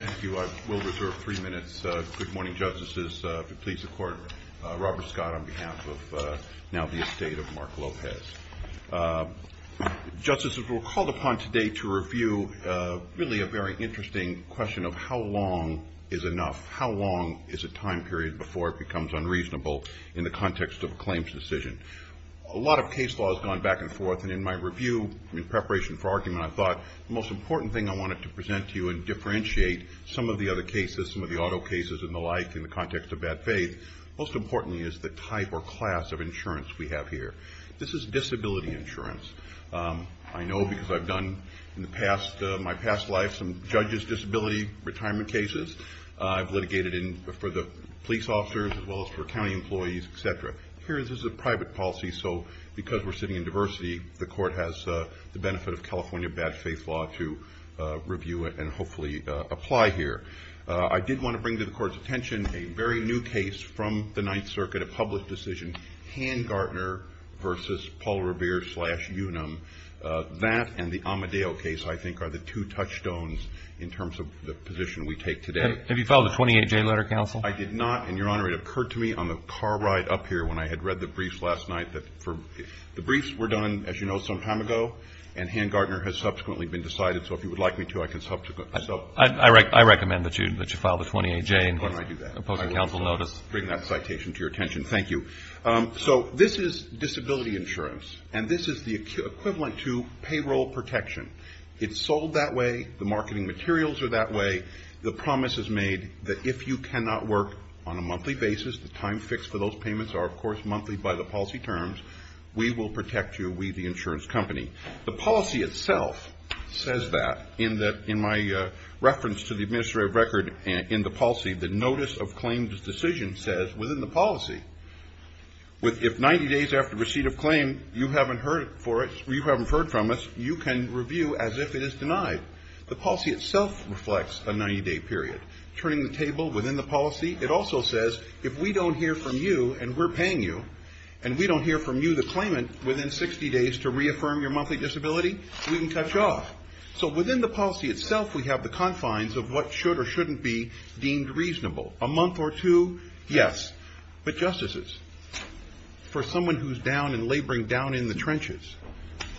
Thank you. I will reserve three minutes. Good morning, justices. Please support Robert Scott on behalf of now the estate of Mark Lopez. Justices, we're called upon today to review really a very interesting question of how long is enough? How long is a time period before it becomes unreasonable in the context of a claims decision? A lot of case law has gone back and forth, and in my review in preparation for argument, I thought the most important thing I wanted to present to you and differentiate some of the other cases, some of the auto cases and the like in the context of bad faith, most importantly is the type or class of insurance we have here. This is disability insurance. I know because I've done in my past life some judge's disability retirement cases. I've litigated for the police officers as well as for county employees, etc. Here this is a private policy, so because we're sitting in diversity, the Court has the benefit of California bad faith law to review it and hopefully apply here. I did want to bring to the Court's attention a very new case from the Ninth Circuit, a public decision, Handgartner v. Paul Revere slash Unum. That and the Amadeo case, I think, are the two touchstones in terms of the position we take today. REED Have you filed a 28-J letter, counsel? JEFFERSON I did not, and, Your Honor, it occurred to me on the car ride up here when I had read the briefs last night. The briefs were done, as you know, some time ago, and Handgartner has subsequently been decided, so if you would like me to, I can subsequently. REED I recommend that you file the 28-J and get a post-counsel notice. JEFFERSON I will also bring that citation to your attention. Thank you. So this is disability insurance, and this is the equivalent to payroll protection. It's sold that way. The marketing materials are that way. The promise is made that if you by the policy terms, we will protect you, we the insurance company. The policy itself says that. In my reference to the administrative record in the policy, the notice of claims decision says within the policy, if 90 days after receipt of claim you haven't heard from us, you can review as if it is denied. The policy itself reflects a 90-day period. Turning the table within the policy, it also says if we don't hear from you and we're paying you, and we don't hear from you the claimant within 60 days to reaffirm your monthly disability, we can cut you off. So within the policy itself, we have the confines of what should or shouldn't be deemed reasonable. A month or two, yes, but justices, for someone who is down and laboring down in the trenches,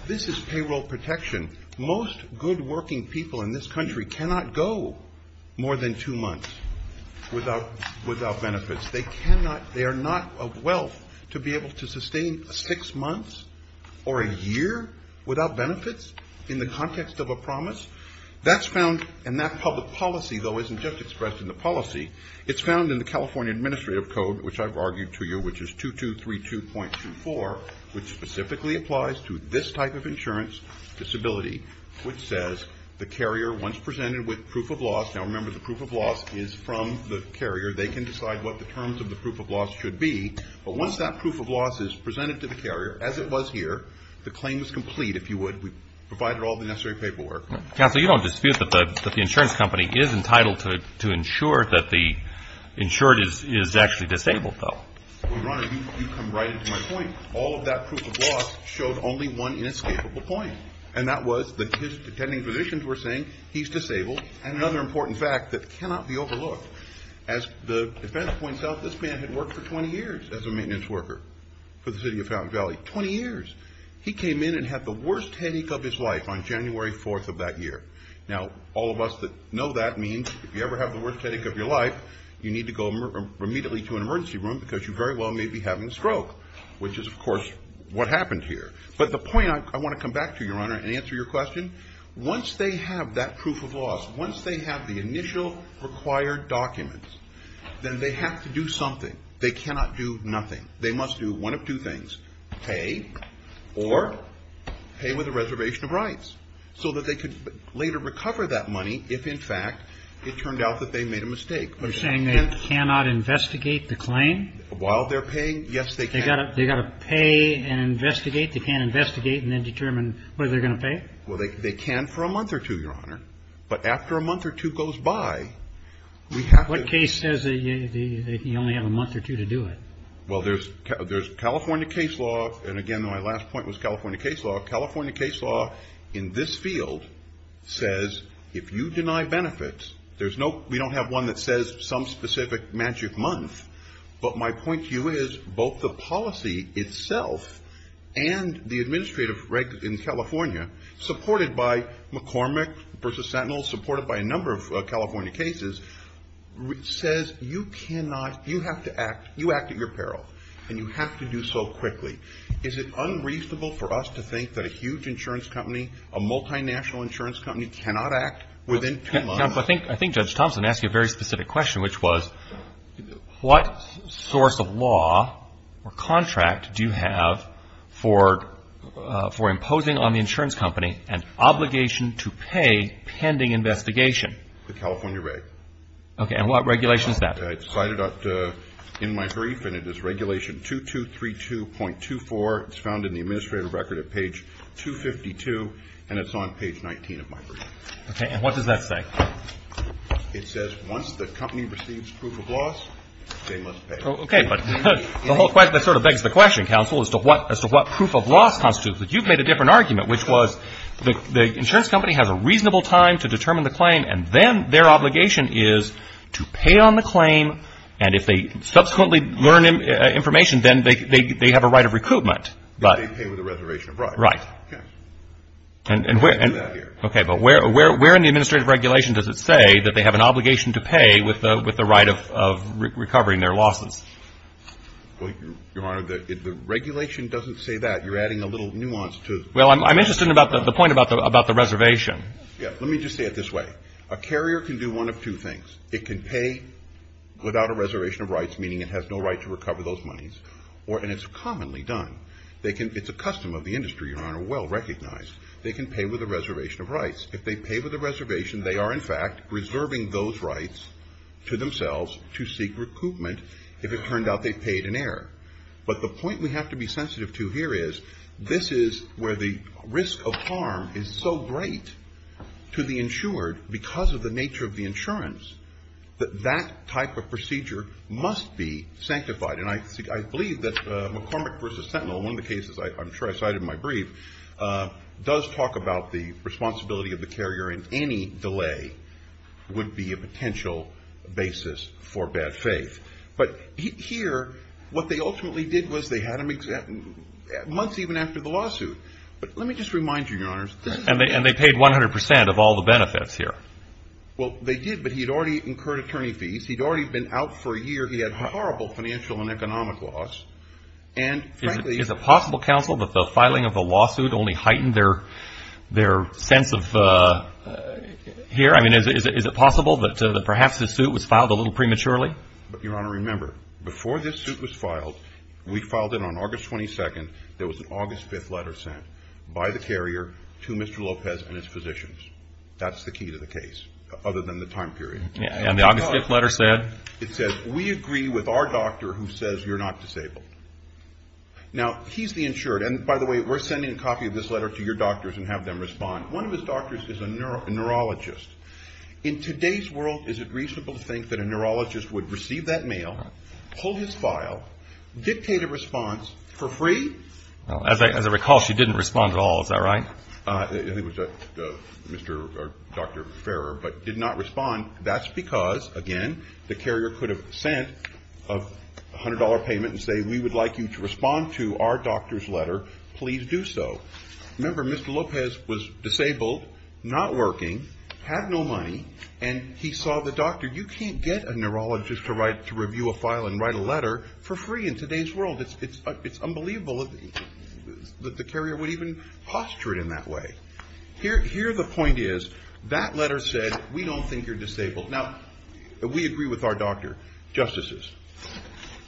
this is payroll protection. Most good working people in this country can't go months without benefits. They are not of wealth to be able to sustain six months or a year without benefits in the context of a promise. That's found in that public policy, though it isn't just expressed in the policy. It's found in the California Administrative Code, which I've argued to you, which is 2232.24, which specifically applies to this type of insurance disability, which says the carrier, once presented with proof of loss, now remember the proof of loss is from the carrier. They can decide what the terms of the proof of loss should be, but once that proof of loss is presented to the carrier, as it was here, the claim is complete, if you would, provided all the necessary paperwork. Counsel, you don't dispute that the insurance company is entitled to insure that the insured is actually disabled, though? Well, Rana, you come right into my point. All of that proof of loss showed only one inescapable point, and that was that his attending physicians were saying he's disabled and another important fact that cannot be overlooked. As the defense points out, this man had worked for 20 years as a maintenance worker for the city of Fountain Valley, 20 years. He came in and had the worst headache of his life on January 4th of that year. Now, all of us that know that means if you ever have the worst headache of your life, you need to go immediately to an emergency room because you very well may be having a stroke, which is, of course, what happened here. But the point I want to come back to, Your Honor, and answer your question, once they have that proof of loss, once they have the initial required documents, then they have to do something. They cannot do nothing. They must do one of two things, pay or pay with a reservation of rights, so that they could later recover that money if, in fact, it turned out that they made a mistake. You're saying they cannot investigate the claim? While they're paying, yes, they can. They've got to pay and investigate. They can't investigate and then determine whether they're going to pay? Well, they can for a month or two, Your Honor. But after a month or two goes by, we have to What case says that you only have a month or two to do it? Well, there's California case law. And again, my last point was California case law. California case law in this field says if you deny benefits, there's no we don't have one that says some specific magic month. But my point to you is both the policy itself and the administrative reg in California, supported by McCormick v. Sentinel, supported by a number of California cases, says you cannot, you have to act, you act at your peril. And you have to do so quickly. Is it unreasonable for us to think that a huge insurance company, a multinational insurance company, cannot act within two months? I think Judge Thompson asked you a very specific question, which was what source of law or contract do you have for imposing on the insurance company an obligation to pay pending investigation? The California reg. Okay. And what regulation is that? It's cited in my brief, and it is regulation 2232.24. It's found in the administrative record at page 252, and it's on page 19 of my brief. Okay. And what does that say? It says once the company receives proof of loss, they must pay. Okay. But the whole question, that sort of begs the question, counsel, as to what proof of loss constitutes. But you've made a different argument, which was the insurance company has a reasonable time to determine the claim, and then their obligation is to pay on the claim, and if they subsequently learn information, then they have a right of recoupment. But they pay with a reservation of rights. Right. Okay. And we're going to do that here. Okay. But where in the administrative regulation does it say that they have an obligation to pay with the right of recovering their losses? Well, Your Honor, the regulation doesn't say that. You're adding a little nuance to it. Well, I'm interested in the point about the reservation. Yeah. Let me just say it this way. A carrier can do one of two things. It can pay without a reservation of rights, meaning it has no right to recover those monies, and it's commonly done. It's a custom of the industry, Your Honor, well recognized. They can pay with a reservation of rights. If they pay with a reservation, they are, in fact, reserving those rights to themselves to seek recoupment if it turned out they paid in error. But the point we have to be sensitive to here is, this is where the risk of harm is so great to the insured because of the nature of the insurance, that that type of procedure must be sanctified. And I believe that McCormick v. Sentinel, one of the cases I'm sure I cited in my brief, does talk about the responsibility of the carrier in any delay would be a potential basis for bad faith. But here, what they ultimately did was they had him exempt months even after the lawsuit. But let me just remind you, Your Honors, this is a... And they paid 100% of all the benefits here. Well, they did, but he had already incurred attorney fees. He'd already been out for a year. He had horrible financial and economic loss. And frankly... Is it possible, Counsel, that the filing of the lawsuit only heightened their sense of... Here, I mean, is it possible that perhaps this suit was filed a little prematurely? But, Your Honor, remember, before this suit was filed, we filed it on August 22nd. There was an August 5th letter sent by the carrier to Mr. Lopez and his physicians. That's the key to the case, other than the time period. And the August 5th letter said? It said, we agree with our doctor who says you're not disabled. Now, he's the insured. And by the way, we're sending a copy of this letter to your doctors and have them respond. One of his doctors is a neurologist. In today's world, is it reasonable to think that a neurologist would receive that mail, pull his file, dictate a response for free? As I recall, she didn't respond at all. Is that right? I think it was Dr. Farrer, but did not respond. That's because, again, the carrier could have sent a $100 payment and say, we would like you to respond to our doctor's letter. Please do so. Remember, Mr. Lopez was disabled, not working, had no money, and he saw the doctor. You can't get a neurologist to review a file and write a letter for free in today's world. It's unbelievable that the carrier would even posture it in that way. Here the point is, that letter said, we don't think you're disabled. Now, we agree with our doctor. Justices,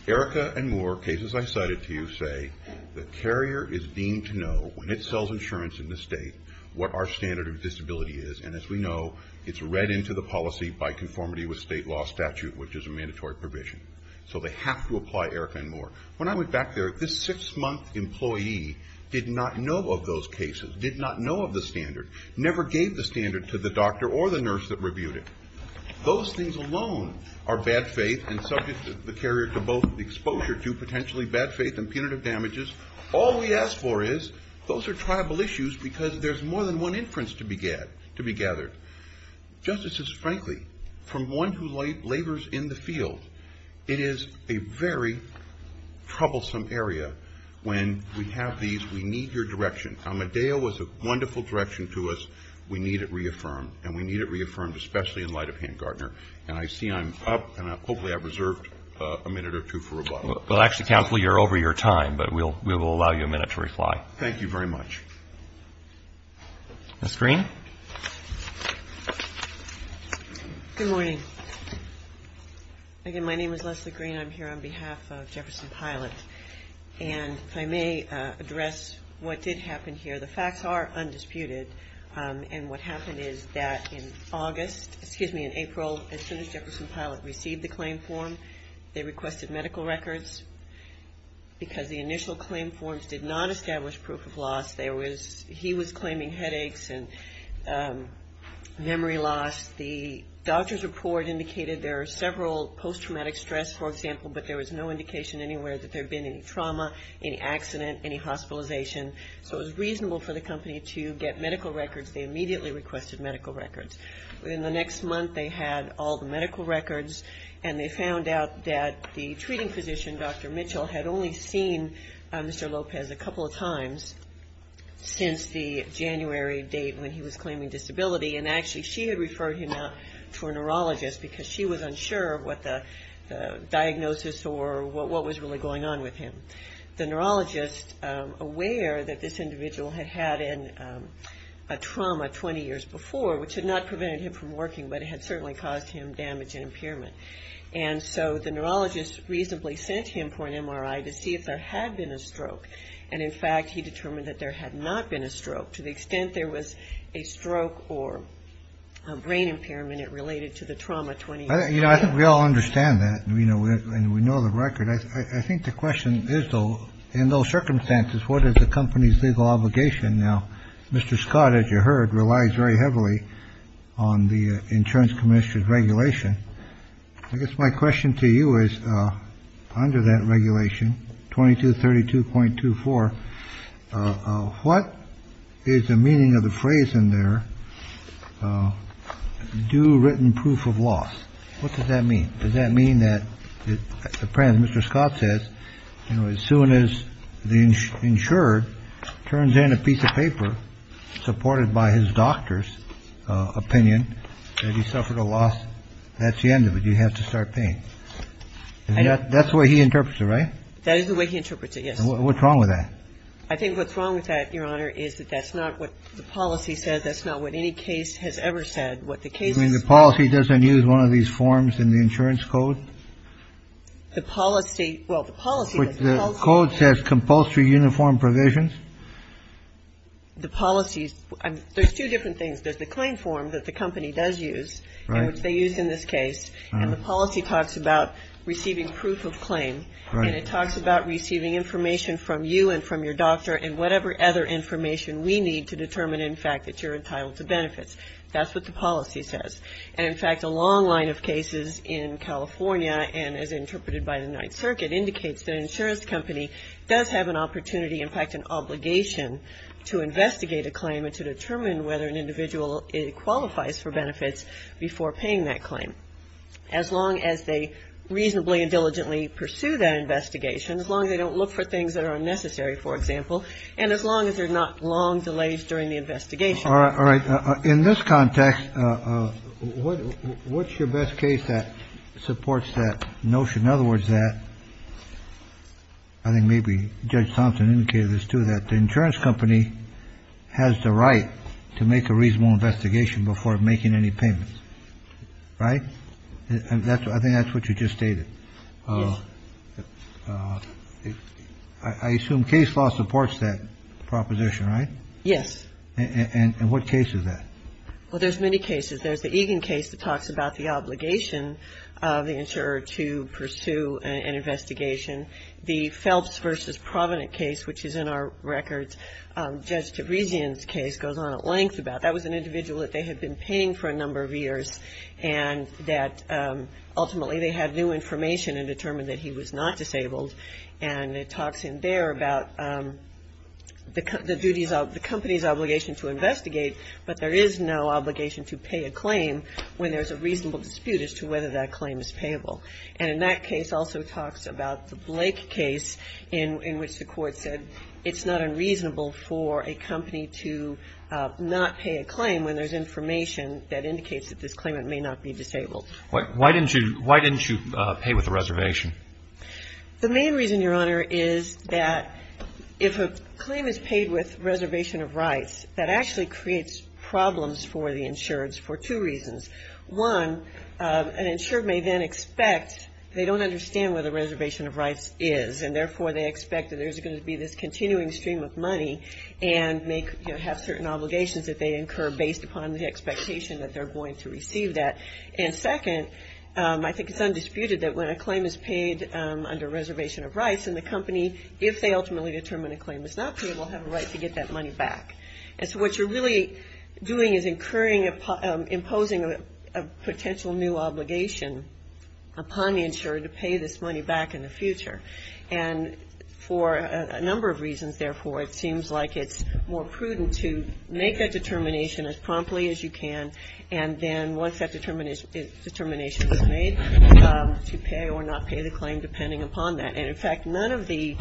Erica and Moore, cases I cited to you, say the carrier is deemed to know, when it sells insurance in the state, what our standard of disability is. And as we know, it's read into the policy by conformity with state law statute, which is a mandatory provision. So they have to apply Erica and Moore. When I went back there, this six-month employee did not know of those cases, did not know of the standard, never gave the standard to the doctor or the nurse that reviewed it. Those things alone are bad faith and subject the carrier to both exposure to potentially bad faith and punitive damages. All we ask for is, those are tribal issues because there's more than one inference to be gathered. Justices, frankly, from one who labors in the field, it is a very troublesome area. When we have these, we need your direction. Amadeo was a wonderful direction to us. We need it reaffirmed, and we need it reaffirmed especially in light of Hank Gardner. And I see I'm up, and hopefully I've reserved a minute or two for rebuttal. Well, actually, counsel, you're over your time, but we will allow you a minute to reply. Thank you very much. Ms. Green? Good morning. Again, my name is Leslie Green. I'm here on behalf of Jefferson Pilot. And if I may address what did happen here. The facts are undisputed, and what happened is that in August, excuse me, in April, as soon as Jefferson Pilot received the claim form, they requested medical records. Because the initial claim forms did not establish proof of loss. There was, he was claiming headaches and memory loss. The doctor's report indicated there are several post-traumatic stress, for example, but there was no indication anywhere that there had been any trauma, any accident, any hospitalization. So it was reasonable for the company to get medical records. They immediately requested medical records. In the next month, they had all the medical records, and they found out that the treating physician, Dr. Mitchell, had only seen Mr. Lopez a couple of times since the January date when he was claiming disability. And actually, she had referred him out to a neurologist because she was unsure of what the diagnosis or what was really going on with him. The neurologist, aware that this individual had had a trauma 20 years before, which had not prevented him from working, but it had certainly caused him damage and impairment. And so the neurologist immediately sent him for an MRI to see if there had been a stroke. And in fact, he determined that there had not been a stroke. To the extent there was a stroke or a brain impairment, it related to the trauma 20 years prior. You know, I think we all understand that, and we know the record. I think the question is, though, in those circumstances, what is the company's legal obligation? Now, Mr. Scott, as you heard, relies very heavily on the insurance commission's regulation. I guess my question to you is, under that regulation, 2232.24, what is the meaning of the phrase in there, due written proof of loss? What does that mean? Does that mean that, Mr. Scott says, you know, as soon as the insured turns in a piece of paper supported by his doctor's opinion, that he suffered a loss, that's the end of it. You have to start paying. That's the way he interprets it, right? That is the way he interprets it, yes. And what's wrong with that? I think what's wrong with that, Your Honor, is that that's not what the policy says. That's not what any case has ever said. What the case is going to say. You mean the policy doesn't use one of these forms in the insurance code? The policy – well, the policy does. But the code says compulsory uniform provisions. The policy – there's two different things. There's the claim form that the company does use, and which they used in this case. And the policy talks about receiving proof of claim. And it talks about receiving information from you and from your doctor and whatever other information we need to determine, in fact, that you're entitled to benefits. That's what the policy says. And, in fact, a long line of cases in California, and as interpreted by the Ninth Circuit, indicates that an insurance company does have an opportunity – in fact, an obligation – to investigate a claim and to determine whether an individual qualifies for benefits before paying that claim, as long as they reasonably and diligently pursue that investigation, as long as they don't look for things that are unnecessary, for example, and as long as there are not long delays during the investigation. All right. All right. In this context, what's your best case that supports that notion? In other words, that – I think maybe Judge Thompson indicated this, too, that the insurance company has the right to make a reasonable investigation before making any payments. Right? And that's – I think that's what you just stated. Yes. I assume case law supports that proposition, right? Yes. And what case is that? Well, there's many cases. There's the Egan case that talks about the obligation of the insurer to pursue an investigation. The Phelps v. Provident case, which is in our records. Judge Terezian's case goes on at length about that. That was an individual that they had been paying for a number of years, and that ultimately they had new information and determined that he was not disabled. And it talks in there about the company's obligation to investigate, but there is no obligation to pay a claim when there's a reasonable dispute as to whether that claim is payable. And in that case also talks about the Blake case in which the court said it's not unreasonable for a company to not pay a claim when there's information that indicates that this claimant may not be disabled. Why didn't you pay with a reservation? The main reason, Your Honor, is that if a claim is paid with reservation of rights, that actually creates problems for the insureds for two reasons. One, an insured may then expect they don't understand where the reservation of rights is, and therefore they expect that there's going to be this continuing stream of money and may have certain obligations that they incur based upon the expectation that they're going to receive that. And second, I think it's undisputed that when a claim is paid under reservation of rights and the company, if they ultimately determine a claim is not payable, have a right to get that money back. And so what you're really doing is incurring, imposing a potential new obligation upon the insurer to pay this money back in the future. And for a number of reasons, therefore, it seems like it's more prudent to make that determination as promptly as you can, and then once that determination is made, to pay or not pay the claim depending upon that. And in fact, none of the,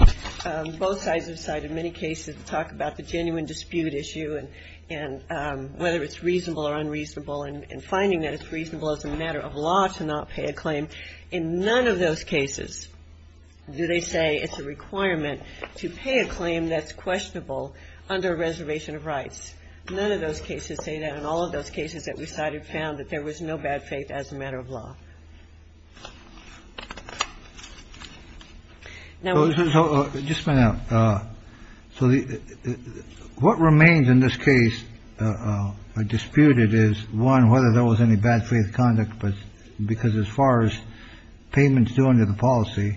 both sides have cited many cases that talk about the genuine dispute issue and whether it's reasonable or unreasonable, and finding that it's reasonable as a matter of law to not pay a claim. In none of those cases do they say it's a requirement to pay a claim that's questionable under reservation of rights. None of those cases say that, and all of those cases that we cited found that there was no bad faith as a matter of law. Now, just a minute. So what remains in this case disputed is, one, whether there was any bad faith conduct, because as far as payments due under the policy,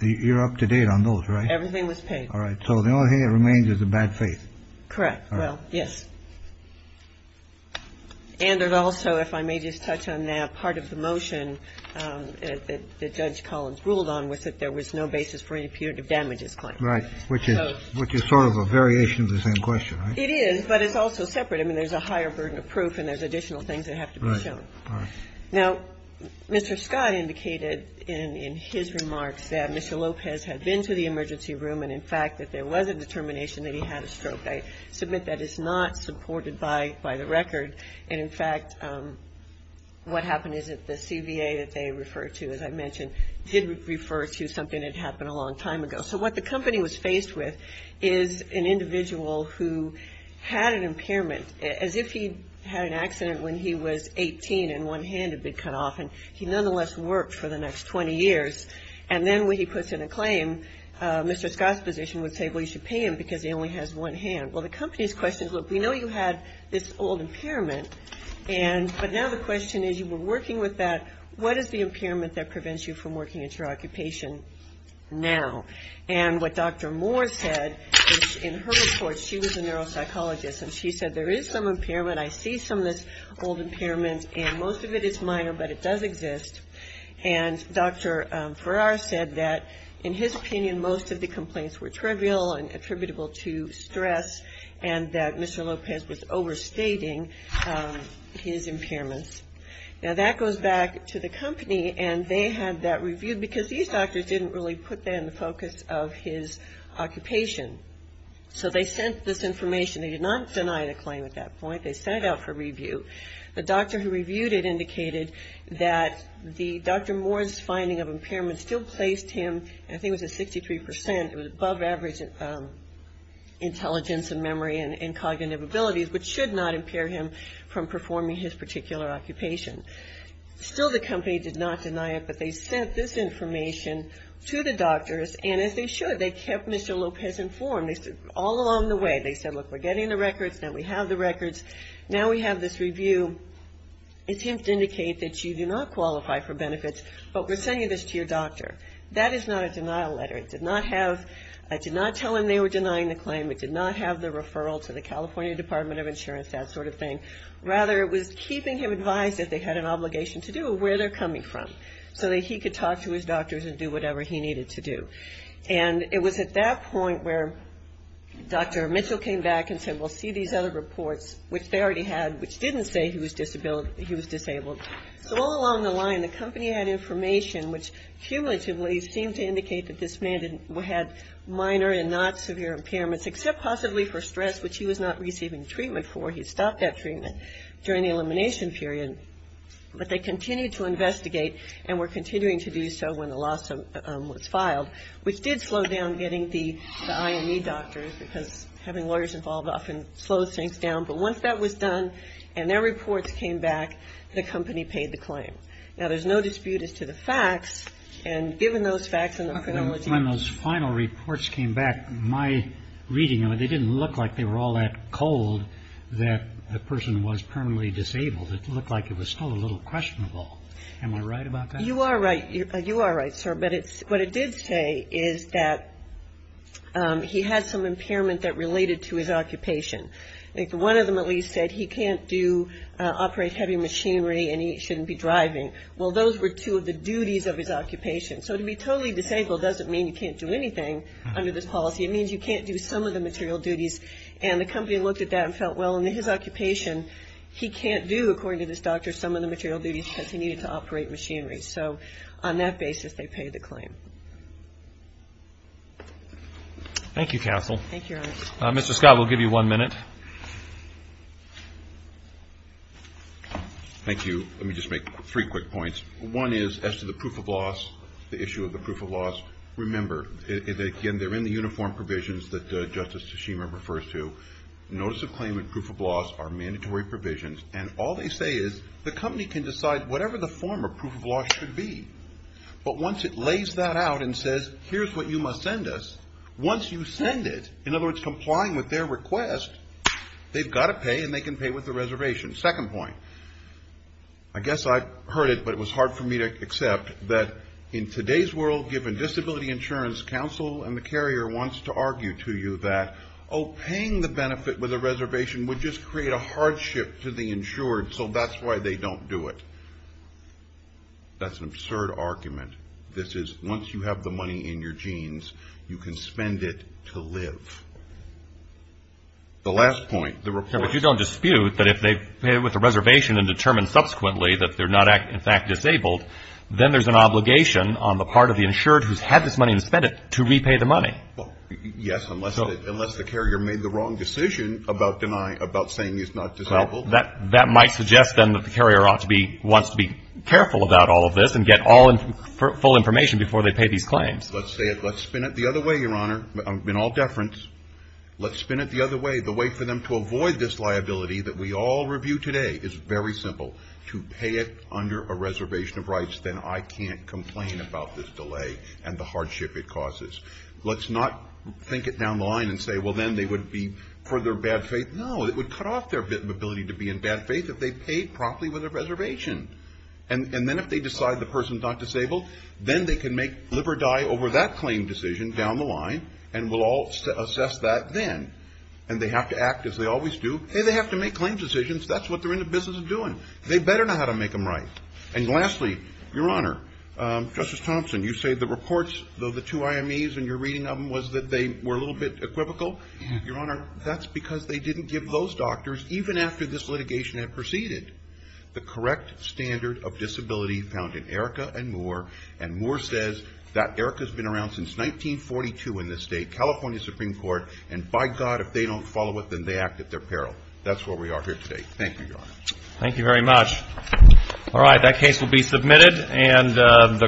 you're up to date on those, right? Everything was paid. All right. So the only thing that remains is a bad faith. Correct. Well, yes. And it also, if I may just touch on that part of the motion, the motion that Judge Collins ruled on was that there was no basis for an imputative damages claim. Right, which is sort of a variation of the same question, right? It is, but it's also separate. I mean, there's a higher burden of proof and there's additional things that have to be shown. Right. All right. Now, Mr. Skye indicated in his remarks that Mr. Lopez had been to the emergency room and, in fact, that there was a determination that he had a stroke. I submit that is not supported by the record. And in fact, what happened is that the CVA that they referred to, as I mentioned, did refer to something that happened a long time ago. So what the company was faced with is an individual who had an impairment, as if he had an accident when he was 18 and one hand had been cut off, and he nonetheless worked for the next 20 years. And then when he puts in a claim, Mr. Skye's position would say, well, you should pay him because he only has one hand. Well, the company's question is, look, we know you had this old impairment, and but now the question is, you were working with that, what is the impairment that prevents you from working at your occupation now? And what Dr. Moore said, in her report, she was a neuropsychologist, and she said, there is some impairment, I see some of this old impairment, and most of it is minor, but it does exist. And Dr. Farrar said that, in his opinion, most of the complaints were trivial and attributable to stress, and that Mr. Lopez was overstating his impairments. Now that goes back to the company, and they had that reviewed, because these doctors didn't really put that in the focus of his occupation. So they sent this information, they did not deny the claim at that point, they sent it out for review. The doctor who reviewed it indicated that Dr. Moore's finding of impairment still placed him, I think it was at 63%, it was above average intelligence and memory and cognitive abilities, which should not be a particular occupation. Still, the company did not deny it, but they sent this information to the doctors, and as they should, they kept Mr. Lopez informed. All along the way, they said, look, we're getting the records, now we have the records, now we have this review attempt to indicate that you do not qualify for benefits, but we're sending this to your doctor. That is not a denial letter. It did not have, I did not tell them they were denying the claim, it did not have the referral to the California Department of Insurance, that sort of thing. Rather, it was keeping him advised that they had an obligation to do, where they're coming from, so that he could talk to his doctors and do whatever he needed to do. And it was at that point where Dr. Mitchell came back and said, we'll see these other reports, which they already had, which didn't say he was disabled. So all along the line, the company had information which cumulatively seemed to indicate that this man had minor and not severe impairments, except possibly for stress, which he was not receiving treatment for. He stopped that treatment during the elimination period. But they continued to investigate, and were continuing to do so when the lawsuit was filed, which did slow down getting the IME doctors, because having lawyers involved often slows things down. But once that was done, and their reports came back, the company paid the claim. Now, there's no dispute as to the facts, and given those facts and the criminology. When those final reports came back, my reading of it, they didn't look like they were all that cold that the person was permanently disabled. It looked like it was still a little questionable. Am I right about that? You are right, sir. But what it did say is that he had some impairment that related to his occupation. One of them at least said he can't operate heavy machinery, and he shouldn't be driving. Well, those were two of the duties of his occupation. So to be totally disabled doesn't mean you can't do anything under this policy. It means you can't do some of the material duties. And the company looked at that and felt, well, in his occupation, he can't do, according to this doctor, some of the material duties because he needed to operate machinery. So on that basis, they paid the claim. Thank you, Counsel. Thank you, Your Honor. Mr. Scott, we'll give you one minute. Thank you. Let me just make three quick points. One is as to the proof of loss, the issue of the proof of loss, remember, again, they're in the uniform provisions that Justice Tsushima refers to. Notice of claim and proof of loss are mandatory provisions, and all they say is the company can decide whatever the form of proof of loss should be. But once it lays that out and says, here's what you must send us, once you send it, in other words, complying with their request, they've got to pay, and they can pay with the reservation. Second point. I guess I've heard it, but it was hard for me to accept, that in today's world, given disability insurance, counsel and the carrier wants to argue to you that, oh, paying the benefit with a reservation would just create a hardship to the insured, so that's why they don't do it. That's an absurd argument. This is, once you have the money in your jeans, you can spend it to live. The last point, the report. But you don't dispute that if they pay with a reservation and determine subsequently that they're not, in fact, disabled, then there's an obligation on the part of the insured who's had this money and spent it to repay the money. Well, yes, unless the carrier made the wrong decision about denying, about saying he's not disabled. Well, that might suggest, then, that the carrier ought to be, wants to be careful about all of this and get all full information before they pay these claims. Let's spin it the other way, Your Honor, in all deference. Let's spin it the other way. The way for them to avoid this liability that we all review today is very simple. To pay it under a reservation of rights. Then I can't complain about this delay and the hardship it causes. Let's not think it down the line and say, well, then they would be, for their bad faith, no, it would cut off their ability to be in bad faith if they paid properly with a reservation. And then if they decide the person's not disabled, then they can make live or die over that claim decision down the line and we'll all assess that then. And they have to act as they always do. Hey, they have to make claims decisions. That's what they're in the business of doing. They better know how to make them right. And lastly, Your Honor, Justice Thompson, you say the reports of the two IMEs and your reading of them was that they were a little bit equivocal. Your Honor, that's because they didn't give those doctors, even after this litigation had proceeded, the correct standard of disability found in Erica and Moore, and Moore says that Erica's been around since 1942 in this state, California Supreme Court, and by God, if they don't follow it, then they act at their peril. That's where we are here today. Thank you, Your Honor. Thank you very much. All right. That case will be submitted.